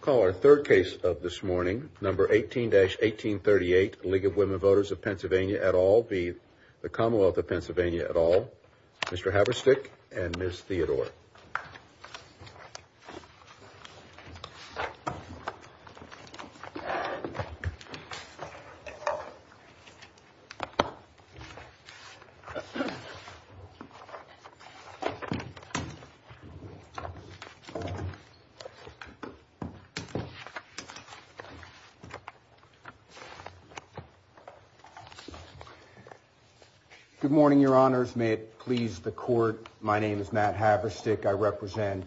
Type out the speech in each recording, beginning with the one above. Call our third case of this morning, number 18-1838, League of Women Voters of Pennsylvania et al. v. The Commonwealth of Pennsylvania et al., Mr. Haverstick and Ms. Theodore. Good morning, Your Honors. May it please the Court, my name is Matt Haverstick. I represent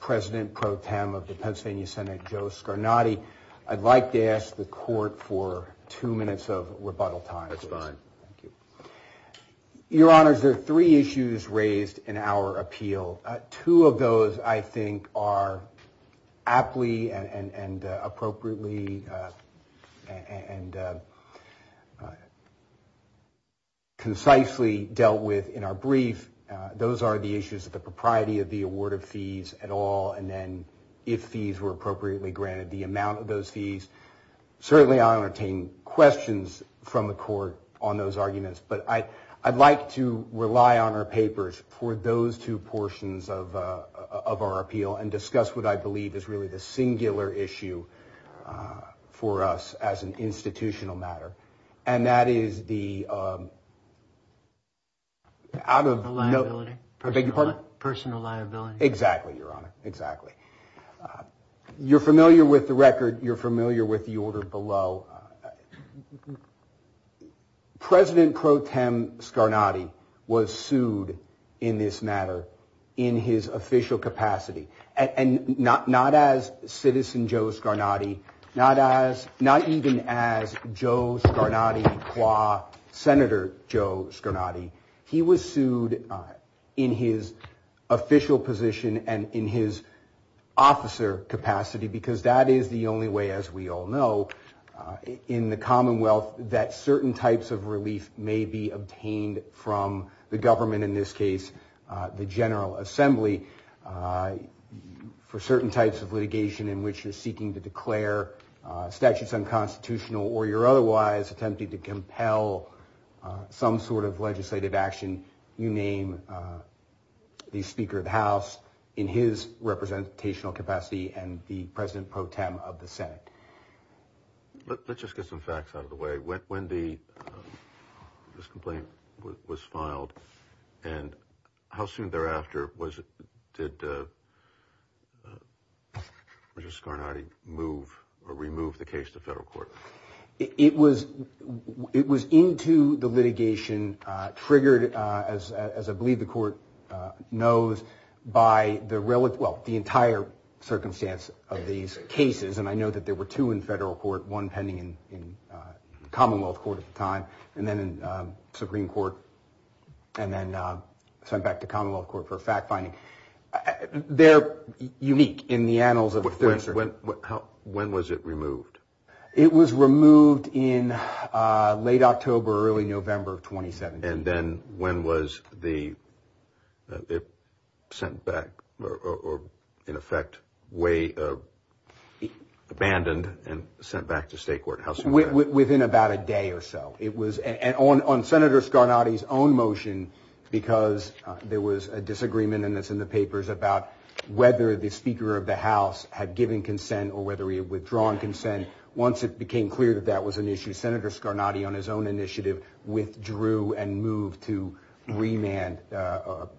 President Pro Tem of the Pennsylvania Senate, Joe Scarnati. I'd like to ask the Court for two minutes of rebuttal time. That's fine. Thank you. Your Honors, there are three issues raised in our appeal. Two of those I think are aptly and appropriately and concisely dealt with in our brief. Those are the issues of the propriety of the award of fees at all, and then if fees were appropriately granted, the amount of those fees. Certainly, I'll entertain questions from the Court on those arguments, but I'd like to rely on our papers for those two portions of our appeal and discuss what I believe is really the singular issue for us as an institutional matter, and that is the out of no personal liability. Exactly, Your Honor. Exactly. You're familiar with the record. You're familiar with the order below. President Pro Tem Scarnati was sued in this matter in his official capacity, and not as citizen Joe Scarnati, not even as Joe Scarnati qua Senator Joe Scarnati. He was sued in his official position and in his officer capacity because that is the only way, as we all know, in the Commonwealth that certain types of relief may be obtained from the government, in this case, the General Assembly, for certain types of litigation in which you're seeking to declare statutes unconstitutional or you're otherwise attempting to compel some sort of legislative action, you name the Speaker of the House in his representational capacity and the President Pro Tem of the Senate. Let's just get some facts out of the way. When this complaint was filed and how soon thereafter did Mr. Scarnati move or remove the case to federal court? It was into the litigation, triggered, as I believe the court knows, by the entire circumstance of these cases, and I know that there were two in federal court, one pending in Commonwealth court at the time, and then in Supreme Court, and then sent back to Commonwealth court for fact-finding. They're unique in the annals of the 33rd. When was it removed? It was removed in late October, early November of 2017. And then when was it sent back, or in effect, way abandoned and sent back to state court? Within about a day or so. On Senator Scarnati's own motion, because there was a disagreement in the papers about whether the Speaker of the House had given consent or whether he had withdrawn consent, once it became clear that that was an issue, Senator Scarnati on his own initiative withdrew and moved to remand. Was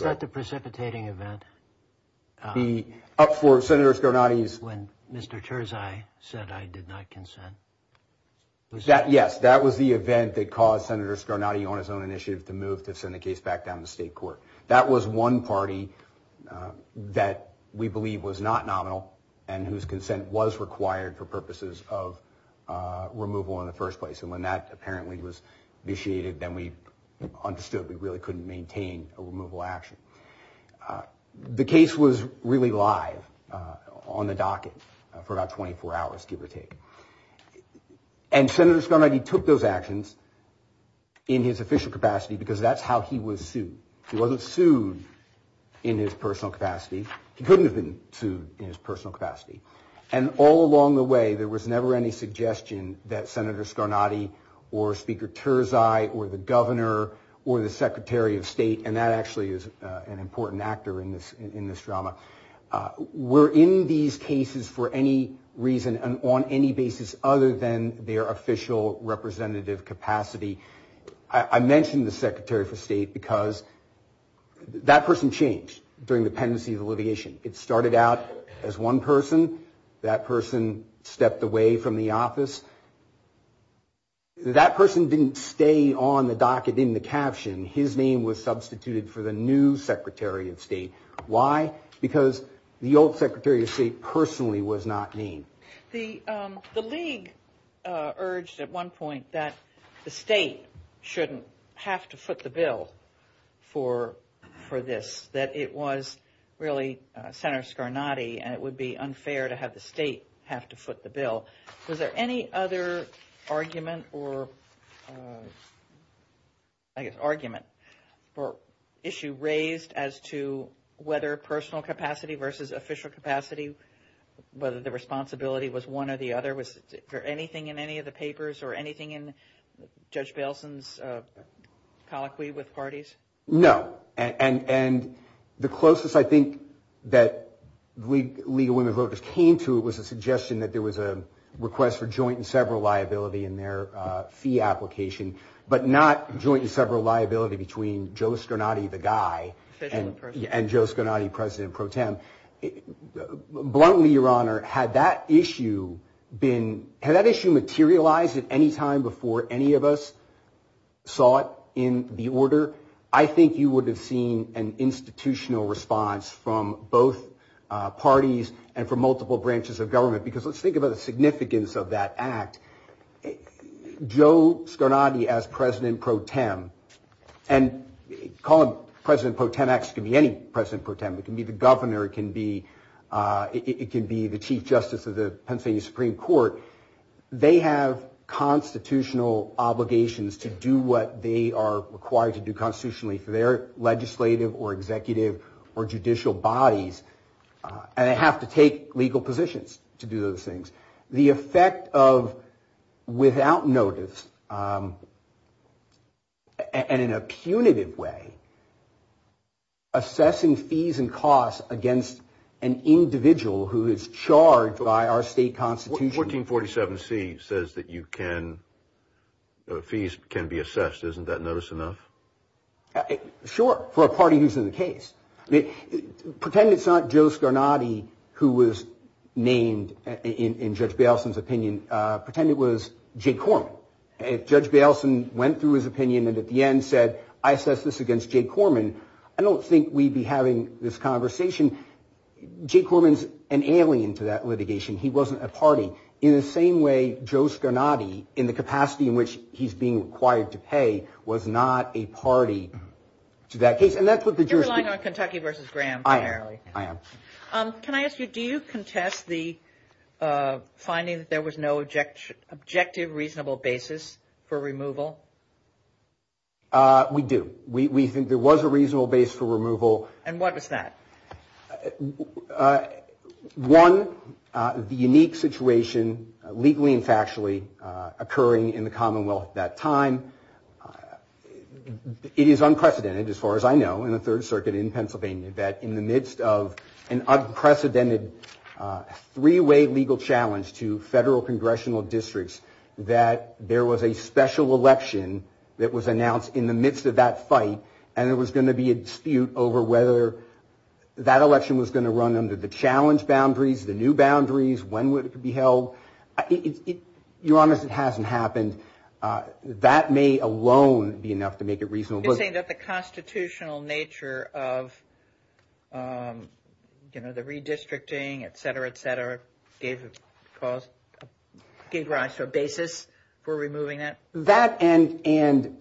that the precipitating event? For Senator Scarnati's... When Mr. Terzai said, I did not consent? Yes, that was the event that caused Senator Scarnati on his own initiative to move to release back down to state court. That was one party that we believe was not nominal and whose consent was required for purposes of removal in the first place. And when that apparently was initiated, then we understood we really couldn't maintain a removal action. The case was really live on the docket for about 24 hours, give or take. And Senator Scarnati was sued. He wasn't sued in his personal capacity. He couldn't have been sued in his personal capacity. And all along the way, there was never any suggestion that Senator Scarnati or Speaker Terzai or the governor or the secretary of state, and that actually is an important actor in this drama, were in these cases for any reason and on any basis other than their official representative capacity. I mentioned the secretary of state because that person changed during the pendency of alleviation. It started out as one person. That person stepped away from the office. That person didn't stay on the docket in the caption. His name was substituted for the new secretary of state. Why? Because the old secretary of state personally was not named. The League urged at one point that the state shouldn't have to foot the bill for this, that it was really Senator Scarnati and it would be unfair to have the state have to foot the bill. Was there any other argument or, I guess, argument or issue raised as to whether personal capacity versus official capacity, whether the responsibility was one or the other? Was there anything in any of the papers or anything in Judge Bailson's colloquy with parties? No. And the closest I think that League of Women Voters came to was a suggestion that there was a request for joint and several liability in their fee application, but not joint and Scarnati, President Pro Tem. Bluntly, Your Honor, had that issue been, had that issue materialized at any time before any of us saw it in the order, I think you would have seen an institutional response from both parties and from multiple branches of government. Because let's think about the significance of that act. Joe Scarnati as President Pro Tem, and you can call him President Pro Tem, it can be any President Pro Tem, it can be the governor, it can be the Chief Justice of the Pennsylvania Supreme Court. They have constitutional obligations to do what they are required to do constitutionally for their legislative or executive or judicial bodies. And they have to take legal positions to do those things. The effect of without notice and in a punitive way, assessing fees and costs against an individual who is charged by our state constitution. 1447C says that you can, fees can be assessed. Isn't that notice enough? Sure. For a party who's in the case. Pretend it's not Joe Scarnati who was named in Judge Baleson's opinion. Pretend it was Jay Corman. If Judge Baleson went through his opinion and at the end said, I assess this against Jay Corman, I don't think we'd be having this conversation. Jay Corman's an alien to that litigation. He wasn't a party. In the same way, Joe Scarnati, in the capacity in which he's being required to pay, was not a party to that case. And that's what the jurisdiction... You're relying on Kentucky versus Graham primarily. I am. Can I ask you, do you contest the finding that there was no objective, reasonable basis for removal? We do. We think there was a reasonable base for removal. And what was that? One, the unique situation, legally and factually, occurring in the Commonwealth at that time. It is unprecedented, as far as I know, in the Third Circuit in Pennsylvania, that in the midst of an unprecedented three-way legal challenge to federal congressional districts, that there was a special election that was going to be held in the midst of that fight. And there was going to be a dispute over whether that election was going to run under the challenge boundaries, the new boundaries, when it would be held. You're honest, it hasn't happened. That may alone be enough to make it reasonable. You're saying that the constitutional nature of the redistricting, etc., etc., gave rise to a basis for removing that? That, and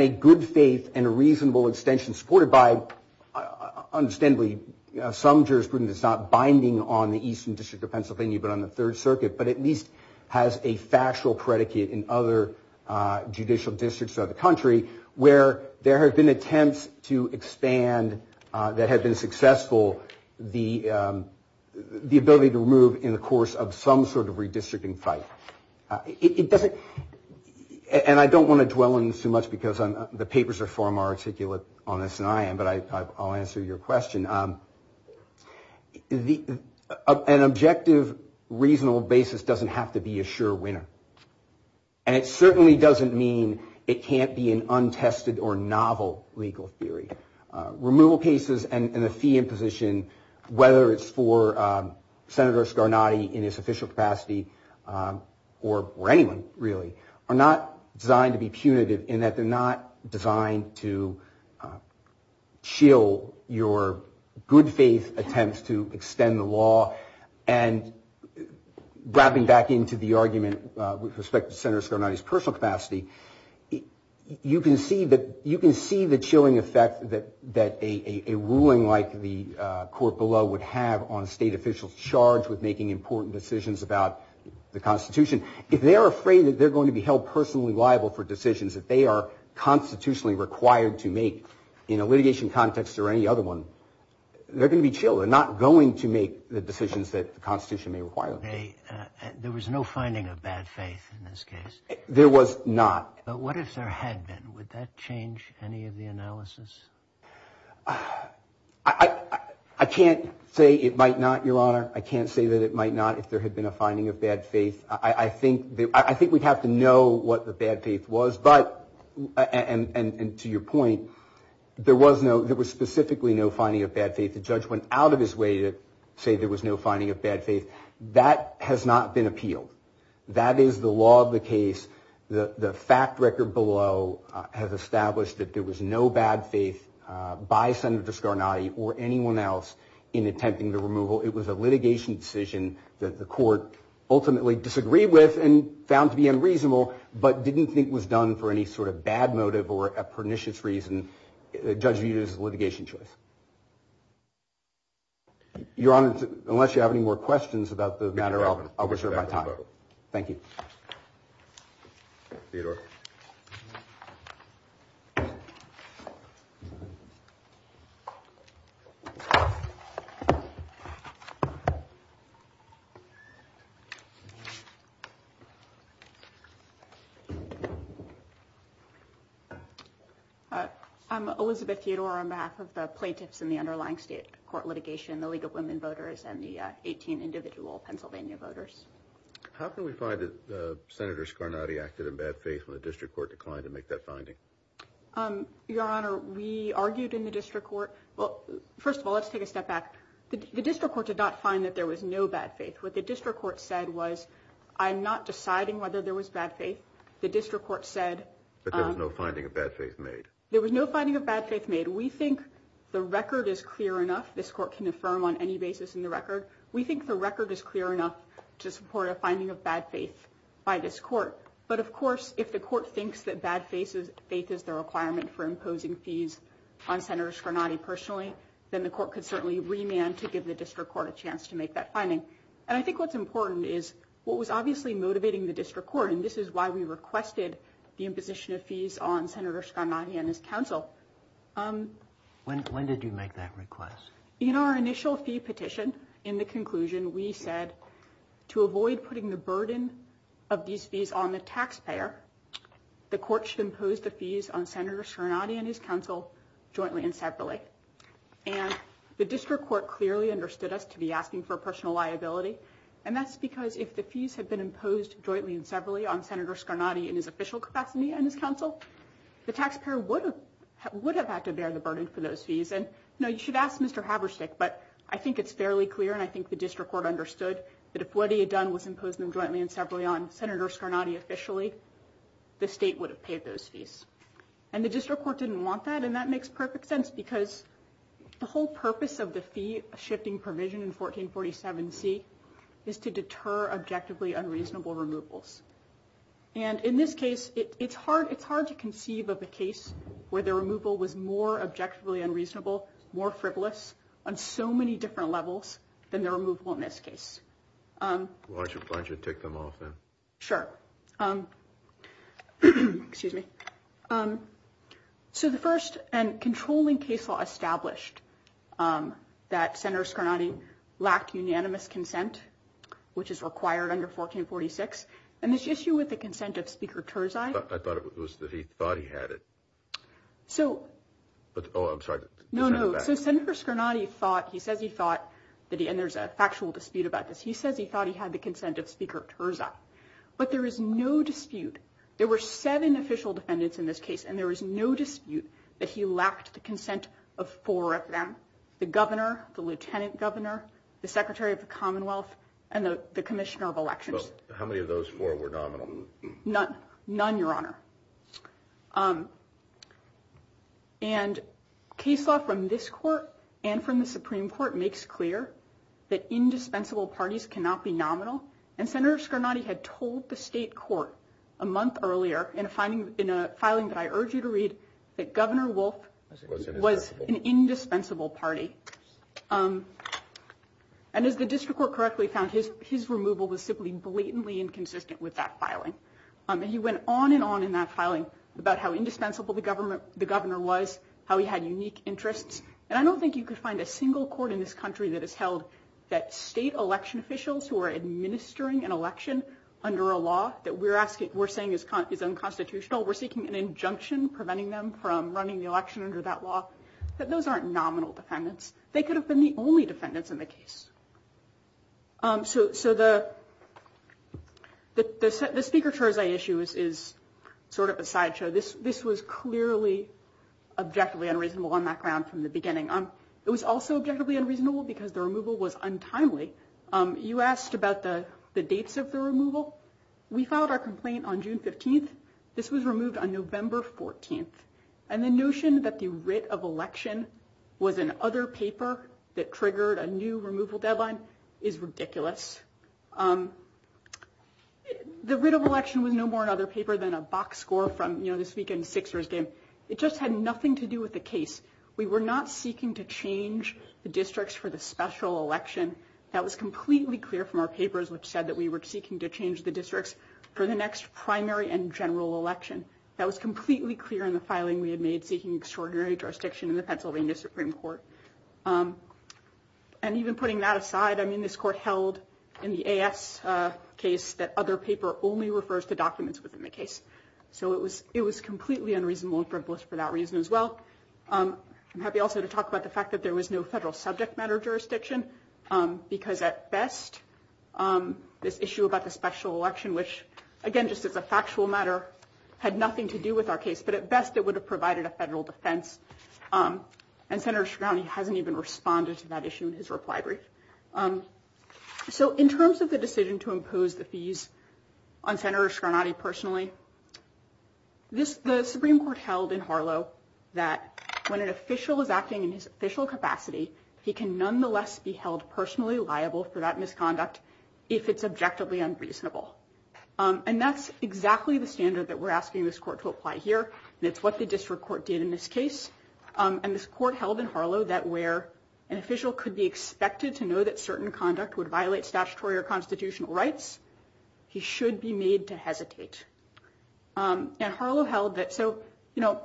a good faith and a reasonable extension supported by, understandably, some jurisprudence that's not binding on the Eastern District of Pennsylvania, but on the Third Circuit, but at least has a factual predicate in other judicial districts throughout the country, where there have been attempts to expand, that have been And I don't want to dwell on this too much because the papers are far more articulate on this than I am, but I'll answer your question. An objective, reasonable basis doesn't have to be a sure winner. And it certainly doesn't mean it can't be an untested or novel legal theory. Removal cases and the fee imposition, whether it's for Senator Scarnati in his are not designed to be punitive in that they're not designed to chill your good faith attempts to extend the law. And wrapping back into the argument with respect to Senator Scarnati's personal capacity, you can see that you can see the chilling effect that a ruling like the court below would have on state officials charged with making important decisions about the Constitution. If they're afraid that they're going to be held personally liable for decisions that they are constitutionally required to make in a litigation context or any other one, they're going to be chilled. They're not going to make the decisions that the Constitution may require. There was no finding of bad faith in this case. There was not. But what if there had been? Would that change any of the analysis? I can't say it might not, Your Honor. I can't say that it might not. If there had been a finding of bad faith, I think that I think we'd have to know what the bad faith was. But and to your point, there was no there was specifically no finding of bad faith. The judge went out of his way to say there was no finding of bad faith. That has not been appealed. That is the law of the case. The judge went out of his way to say that there was no bad faith by Senator Scarnati or anyone else in attempting the removal. It was a litigation decision that the court ultimately disagreed with and found to be unreasonable, but didn't think was done for any sort of bad motive or a pernicious reason. The judge viewed it as a litigation choice. Your Honor, unless you have any more questions about the matter, I'll reserve my time. Thank you. Theodore. I'm Elizabeth Theodore on behalf of the plaintiffs in the underlying state court litigation, the League of Women Voters and the 18 individual Pennsylvania voters. How can we find that Senator Scarnati acted in bad faith when the district court declined to make that finding? Your Honor, we argued in the district court. Well, first of all, let's take a step back. The district court did not find that there was no bad faith. What the district court said was I'm not deciding whether there was bad faith. The district court said there was no finding of bad faith made. There was no finding of bad faith made. We think the record is clear enough. This court can affirm on any basis in the record. We think the record is clear enough to support a finding of bad faith by this court. But of course, if the court thinks that bad faith is the requirement for imposing fees on Senator Scarnati personally, then the court could certainly remand to give the district court a chance to make that finding. And I think what's important is what was obviously motivating the district court. And this is why we requested the imposition of fees on Senator Scarnati and his counsel. When did you make that request? In our initial fee petition, in the conclusion, we said to avoid putting the burden of these fees on the taxpayer, the court should impose the fees on Senator Scarnati and his counsel jointly and separately. And the district court clearly understood us to be asking for personal liability. And that's because if the fees have been imposed jointly and separately on Senator Scarnati in his official capacity and his counsel, the taxpayer would have had to bear the burden for those fees. And, you know, you should ask Mr. Haberstick, but I think it's fairly clear. And I think the district court understood that if what he had done was imposed jointly and separately on Senator Scarnati officially, the state would have paid those fees. And the district court didn't want that. And that makes perfect sense because the whole purpose of the fee shifting provision in 1447C is to deter objectively unreasonable removals. And in this case, it's hard it's hard to conceive of a case where the removal was more objectively unreasonable, more frivolous on so many different levels than the removal in this case. Why don't you take them off then? Sure. Excuse me. So the first and controlling case law established that Senator Scarnati lacked unanimous consent, which is required under 1446, and this issue with the consent of Speaker Terzai. I thought it was that he thought he had it. So. Oh, I'm sorry. No, no. So Senator Scarnati thought he says he thought that he and there's a factual dispute about this. He says he thought he had the consent of Speaker Terzai. But there is no dispute. There were seven official defendants in this case, and there is no dispute that he lacked the consent of four of them. The governor, the lieutenant governor, the secretary of the Commonwealth and the commissioner of elections. How many of those four were nominal? None. None, Your Honor. And case law from this court and from the Supreme Court makes clear that indispensable parties cannot be nominal. And Senator Scarnati had told the state court a month earlier in a finding in a filing that I urge you to read that Governor Wolf was an indispensable party. And as the district court correctly found, his his removal was simply blatantly inconsistent with that filing. He went on and on in that filing about how indispensable the government, the governor was, how he had unique interests. And I don't think you could find a single court in this country that has held that state election officials who are administering an election under a law that we're asking, we're saying is is unconstitutional. We're seeking an injunction preventing them from running the election under that law. But those aren't nominal defendants. They could have been the only defendants in the case. So. So the the Speaker's issue is sort of a sideshow. This this was clearly objectively unreasonable on that ground from the beginning. It was also objectively unreasonable because the removal was untimely. You asked about the dates of the removal. We filed our complaint on June 15th. This was removed on November 14th. And the notion that the writ of election was an other paper that triggered a new removal deadline is ridiculous. The writ of election was no more another paper than a box score from this weekend's Sixers game. It just had nothing to do with the case. We were not seeking to change the districts for the special election. That was completely clear from our papers, which said that we were seeking to change the districts for the next primary and general election. That was completely clear in the filing. We had made seeking extraordinary jurisdiction in the Pennsylvania Supreme Court. And even putting that aside, I mean, this court held in the case that other paper only refers to documents within the case. So it was it was completely unreasonable for us for that reason as well. I'm happy also to talk about the fact that there was no federal subject matter jurisdiction, because at best, this issue about the special election, which, again, just as a factual matter, had nothing to do with our case. But at best, it would have provided a federal defense. And Senator Scarnati hasn't even responded to that issue in his reply brief. So in terms of the decision to impose the fees on Senator Scarnati personally. This the Supreme Court held in Harlow that when an official is acting in his official capacity, he can nonetheless be held personally liable for that misconduct if it's objectively unreasonable. And that's exactly the standard that we're asking this court to apply here. That's what the district court did in this case. And this court held in Harlow that where an official could be expected to know that certain conduct would violate statutory or constitutional rights, he should be made to hesitate. And Harlow held that. So, you know,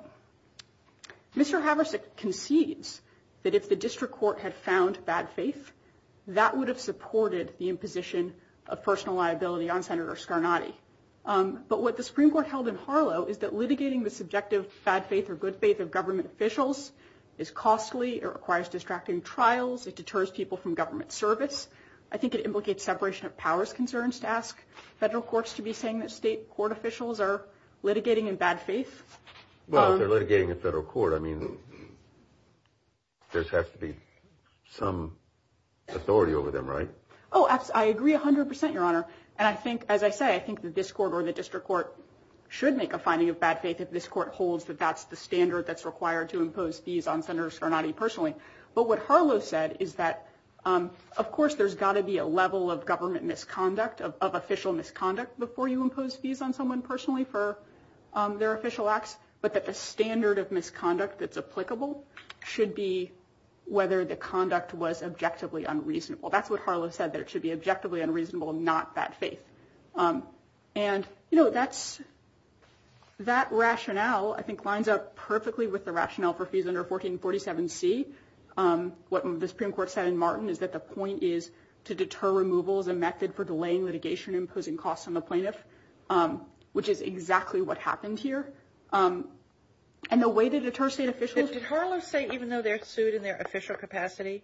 Mr. Haversick concedes that if the district court had found bad faith, that would have supported the imposition of personal liability on Senator Scarnati. But what the Supreme Court held in Harlow is that litigating the subjective bad faith or good faith of government officials is costly. It requires distracting trials. It deters people from government service. I think it implicates separation of powers concerns to ask federal courts to be saying that state court officials are litigating in bad faith. Well, they're litigating a federal court. I mean, there has to be some authority over them, right? Oh, I agree 100 percent, Your Honor. And I think as I say, I think that this court or the district court should make a finding of bad faith. If this court holds that that's the standard that's required to impose fees on Senator Scarnati personally. But what Harlow said is that, of course, there's got to be a level of government misconduct of official misconduct before you impose fees on someone personally for their official acts. But that the standard of misconduct that's applicable should be whether the conduct was objectively unreasonable. That's what Harlow said, that it should be objectively unreasonable, not bad faith. And, you know, that's that rationale, I think, lines up perfectly with the rationale for fees under 1447C. What the Supreme Court said in Martin is that the point is to deter removal as a method for delaying litigation, imposing costs on the plaintiff, which is exactly what happened here. And the way to deter state officials. Did Harlow say even though they're sued in their official capacity,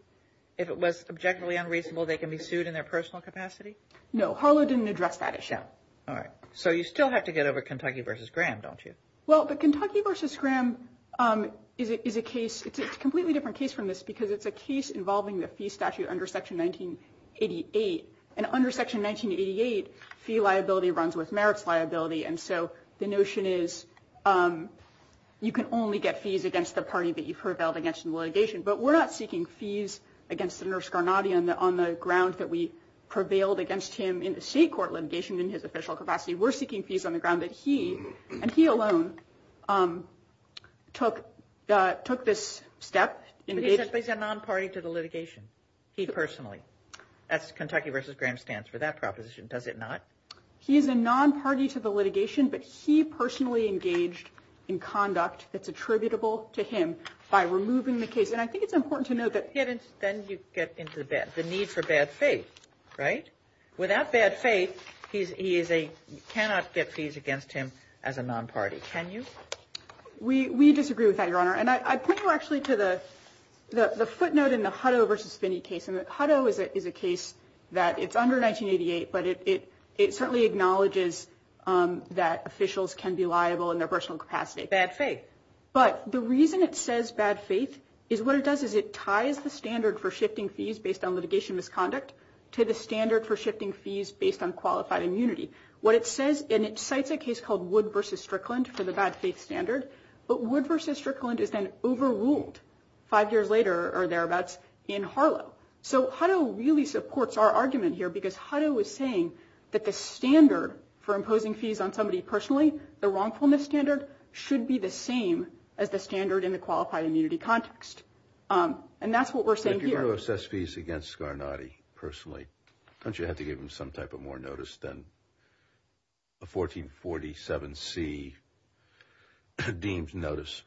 if it was objectively unreasonable, they can be sued in their personal capacity? No, Harlow didn't address that issue. All right. So you still have to get over Kentucky versus Graham, don't you? Well, the Kentucky versus Graham is a case. It's a completely different case from this because it's a case involving the fee statute under Section 1988. And under Section 1988, fee liability runs with merits liability. And so the notion is you can only get fees against the party that you prevailed against in litigation. But we're not seeking fees against Senator Scarnati on the ground that we prevailed against him in the state court litigation in his official capacity. We're seeking fees on the ground that he and he alone took took this step. He said he's a non-party to the litigation. He personally. That's Kentucky versus Graham stands for that proposition, does it not? He is a non-party to the litigation, but he personally engaged in conduct that's attributable to him by removing the case. And I think it's important to note that. Then you get into the bad, the need for bad faith, right? Without bad faith, he is a, you cannot get fees against him as a non-party, can you? We disagree with that, Your Honor. And I point you actually to the footnote in the Hutto versus Finney case. And Hutto is a case that it's under 1988, but it certainly acknowledges that officials can be liable in their personal capacity. But the reason it says bad faith is what it does is it ties the standard for shifting fees based on litigation misconduct to the standard for shifting fees based on qualified immunity. And it cites a case called Wood versus Strickland for the bad faith standard. But Wood versus Strickland is then overruled five years later or thereabouts in Harlow. So Hutto really supports our argument here because Hutto was saying that the standard for imposing fees on somebody personally, the wrongfulness standard should be the same as the standard in the qualified immunity context. And that's what we're saying here. How do you assess fees against Scarnati personally? Don't you have to give him some type of more notice than a 1447C deemed notice?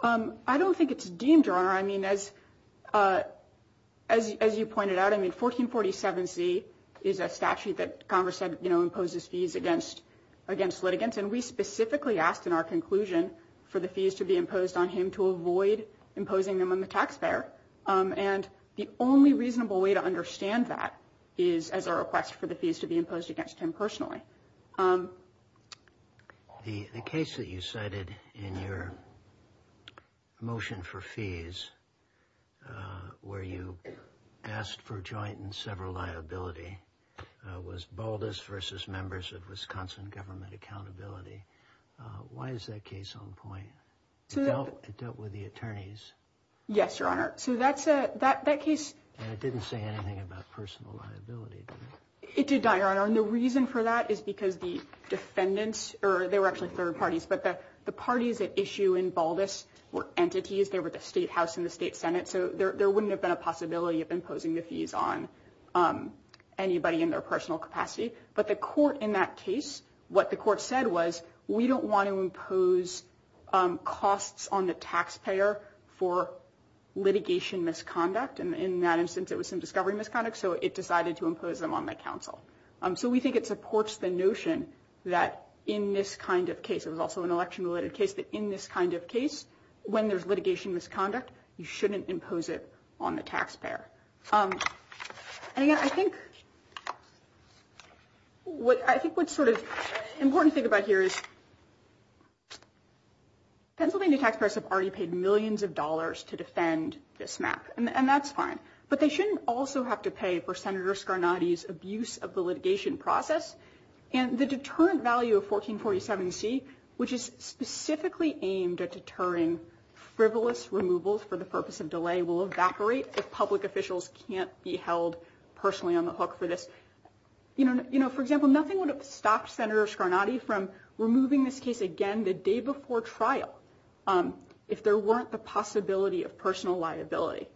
I don't think it's deemed, Your Honor. I mean, as you pointed out, I mean, 1447C is a statute that Congress said imposes fees against litigants. And we specifically asked in our conclusion for the fees to be imposed on him to avoid imposing them on the taxpayer. And the only reasonable way to understand that is as a request for the fees to be imposed against him personally. The case that you cited in your motion for fees, where you asked for joint and several liability, was Baldas versus members of Wisconsin government accountability. Why is that case on point? It dealt with the attorneys. Yes, Your Honor. So that case. And it didn't say anything about personal liability. It did not, Your Honor. And the reason for that is because the defendants, or they were actually third parties, but the parties at issue in Baldas were entities. They were the State House and the State Senate. So there wouldn't have been a possibility of imposing the fees on anybody in their personal capacity. But the court in that case, what the court said was, we don't want to impose costs on the taxpayer for litigation misconduct. And in that instance, it was some discovery misconduct. So it decided to impose them on the counsel. So we think it supports the notion that in this kind of case, it was also an election-related case, that in this kind of case, when there's litigation misconduct, you shouldn't impose it on the taxpayer. And, again, I think what's sort of important to think about here is Pennsylvania taxpayers have already paid millions of dollars to defend this map. And that's fine. But they shouldn't also have to pay for Senator Scarnati's abuse of the litigation process. And the deterrent value of 1447C, which is specifically aimed at deterring frivolous removals for the purpose of delay, will evaporate if public officials can't be held personally on the hook for this. You know, for example, nothing would have stopped Senator Scarnati from removing this case again the day before trial if there weren't the possibility of personal liability.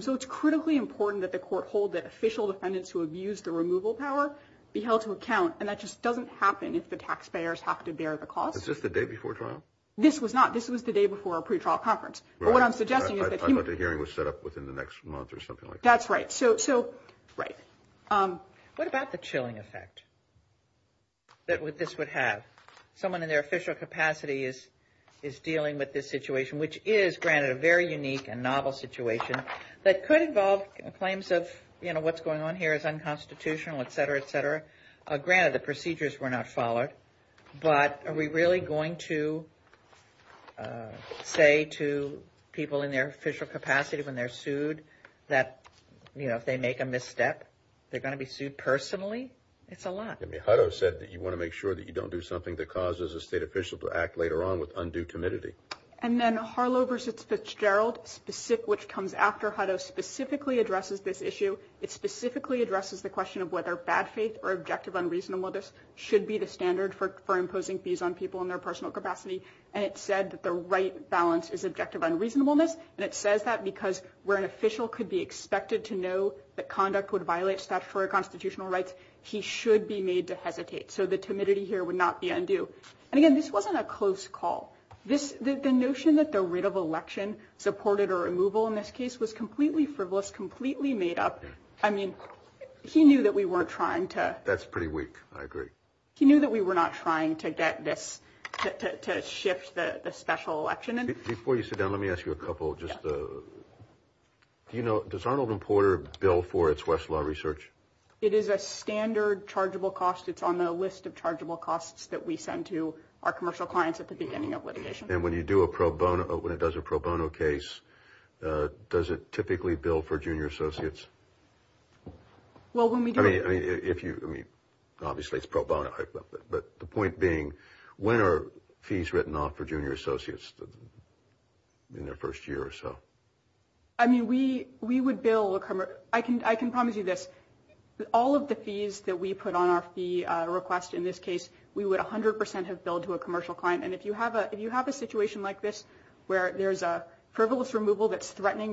So it's critically important that the court hold that official defendants who abused the removal power be held to account. And that just doesn't happen if the taxpayers have to bear the cost. Is this the day before trial? This was not. This was the day before our pretrial conference. But what I'm suggesting is that he – I thought the hearing was set up within the next month or something like that. That's right. So – right. What about the chilling effect that this would have? Someone in their official capacity is dealing with this situation, which is, granted, a very unique and novel situation that could involve claims of, you know, what's going on here is unconstitutional, et cetera, et cetera. Granted, the procedures were not followed. But are we really going to say to people in their official capacity when they're sued that, you know, if they make a misstep, they're going to be sued personally? It's a lot. I mean, Hutto said that you want to make sure that you don't do something that causes a state official to act later on with undue timidity. And then Harlow v. Fitzgerald, which comes after Hutto, specifically addresses this issue. It specifically addresses the question of whether bad faith or objective unreasonableness should be the standard for imposing fees on people in their personal capacity. And it said that the right balance is objective unreasonableness. And it says that because where an official could be expected to know that conduct would violate statutory constitutional rights, he should be made to hesitate. So the timidity here would not be undue. And, again, this wasn't a close call. The notion that the writ of election supported a removal in this case was completely frivolous, completely made up. I mean, he knew that we weren't trying to. That's pretty weak. I agree. He knew that we were not trying to get this, to shift the special election. Before you sit down, let me ask you a couple. Does Arnold and Porter bill for its Westlaw research? It is a standard chargeable cost. It's on the list of chargeable costs that we send to our commercial clients at the beginning of litigation. And when you do a pro bono, when it does a pro bono case, does it typically bill for junior associates? Well, when we do it. I mean, obviously it's pro bono. But the point being, when are fees written off for junior associates in their first year or so? I mean, we would bill. I can promise you this. All of the fees that we put on our fee request in this case, we would 100 percent have billed to a commercial client. And if you have a situation like this where there's a frivolous removal that's threatening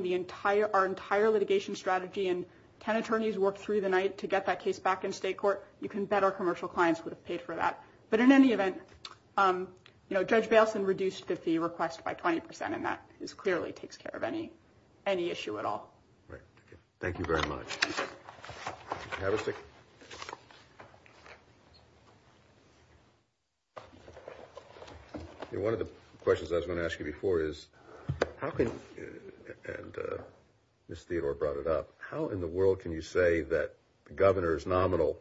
our entire litigation strategy and 10 attorneys worked through the night to get that case back in state court, you can bet our commercial clients would have paid for that. But in any event, you know, Judge Baleson reduced the fee request by 20 percent. And that is clearly takes care of any any issue at all. Thank you very much. One of the questions I was going to ask you before is, how can this theater brought it up? How in the world can you say that the governor is nominal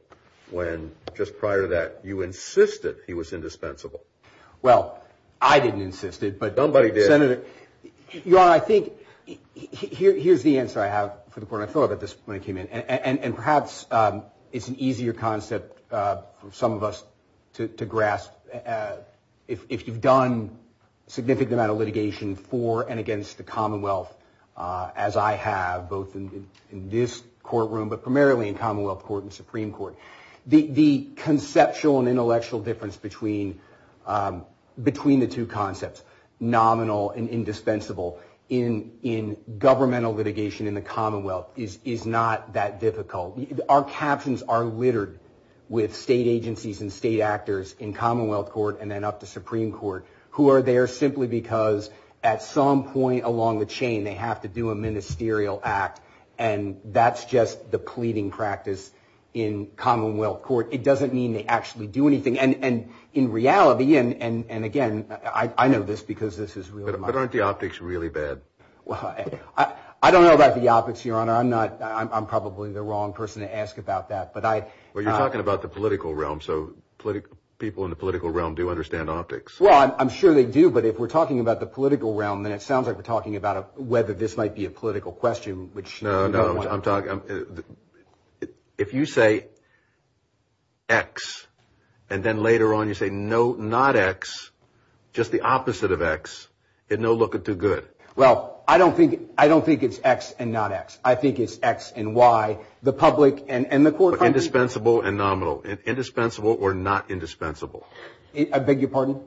when just prior to that you insisted he was indispensable? Well, I didn't insist it, but nobody did it. You know, I think here's the answer I have for the court. I thought about this when I came in and perhaps it's an easier concept for some of us to grasp. If you've done a significant amount of litigation for and against the Commonwealth, as I have both in this courtroom, but primarily in Commonwealth Court and Supreme Court, the conceptual and intellectual difference between the two concepts, nominal and indispensable, in governmental litigation in the Commonwealth is not that difficult. Our captions are littered with state agencies and state actors in Commonwealth Court and then up to Supreme Court who are there simply because at some point along the chain they have to do a ministerial act. And that's just the pleading practice in Commonwealth Court. It doesn't mean they actually do anything. And in reality and again, I know this because this is real. But aren't the optics really bad? Well, I don't know about the optics, Your Honor. I'm probably the wrong person to ask about that. But you're talking about the political realm. So people in the political realm do understand optics. Well, I'm sure they do. But if we're talking about the political realm, then it sounds like we're talking about whether this might be a political question. No, no. If you say X and then later on you say no, not X, just the opposite of X, it no looking too good. Well, I don't think I don't think it's X and not X. I think it's X and Y. The public and the court. Indispensable and nominal. Indispensable or not. Indispensable. I beg your pardon.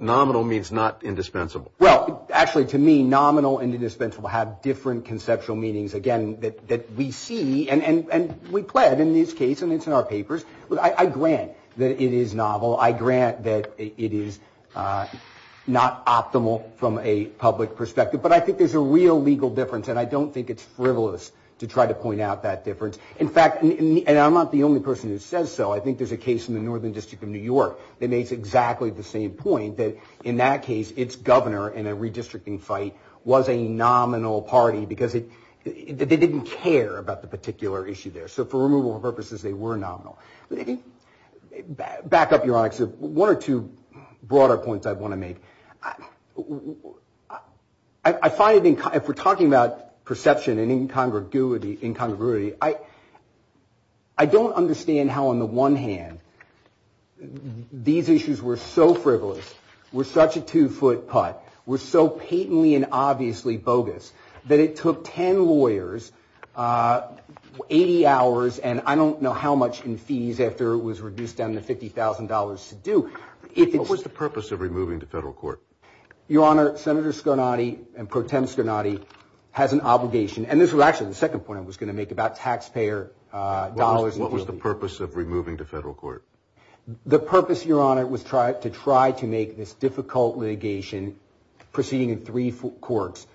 Nominal means not indispensable. Well, actually, to me, nominal and indispensable have different conceptual meanings. Again, that we see and we pled in this case and it's in our papers. I grant that it is novel. I grant that it is not optimal from a public perspective. But I think there's a real legal difference. And I don't think it's frivolous to try to point out that difference. In fact, and I'm not the only person who says so. I think there's a case in the Northern District of New York that makes exactly the same point, that in that case, its governor in a redistricting fight was a nominal party because they didn't care about the particular issue there. So for removal purposes, they were nominal. Back up, Your Honor, because one or two broader points I want to make. I find it, if we're talking about perception and incongruity, I don't understand how, on the one hand, these issues were so frivolous, were such a two-foot putt, were so patently and obviously bogus, that it took 10 lawyers 80 hours and I don't know how much in fees after it was reduced down to $50,000 to do. What was the purpose of removing to federal court? Your Honor, Senator Scarnati and Pro Tem Scarnati has an obligation. And this was actually the second point I was going to make about taxpayer dollars. What was the purpose of removing to federal court? The purpose, Your Honor, was to try to make this difficult litigation proceeding in three courts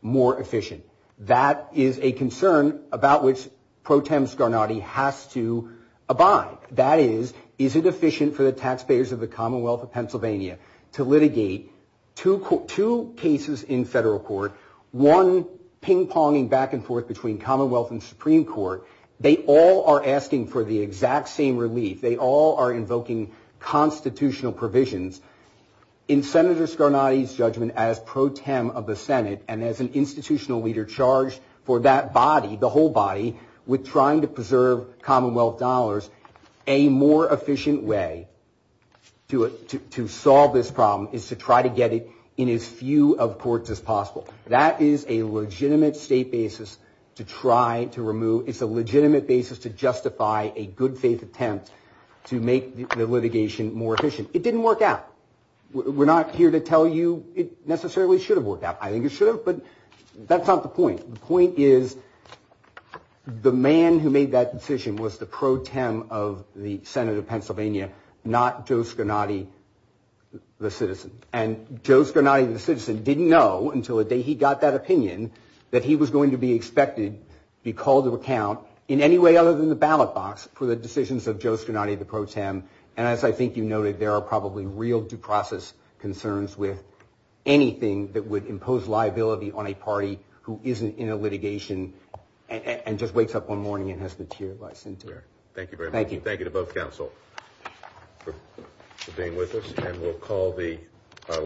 more efficient. That is a concern about which Pro Tem Scarnati has to abide. That is, is it efficient for the taxpayers of the Commonwealth of Pennsylvania to litigate two cases in federal court, one ping-ponging back and forth between Commonwealth and Supreme Court? They all are asking for the exact same relief. They all are invoking constitutional provisions. In Senator Scarnati's judgment as Pro Tem of the Senate and as an institutional leader charged for that body, the whole body, with trying to preserve Commonwealth dollars, a more efficient way to solve this problem is to try to get it in as few of courts as possible. That is a legitimate state basis to try to remove. It's a legitimate basis to justify a good faith attempt to make the litigation more efficient. It didn't work out. We're not here to tell you it necessarily should have worked out. I think it should have, but that's not the point. The point is the man who made that decision was the Pro Tem of the Senate of Pennsylvania, not Joe Scarnati, the citizen. And Joe Scarnati, the citizen, didn't know until the day he got that opinion that he was going to be expected to be called to account in any way other than the ballot box for the decisions of Joe Scarnati, the Pro Tem. And as I think you noted, there are probably real due process concerns with anything that would impose liability on a party who isn't in a litigation and just wakes up one morning and has been teared by Sinterra. Thank you very much. Thank you. Thank you to both counsel for being with us.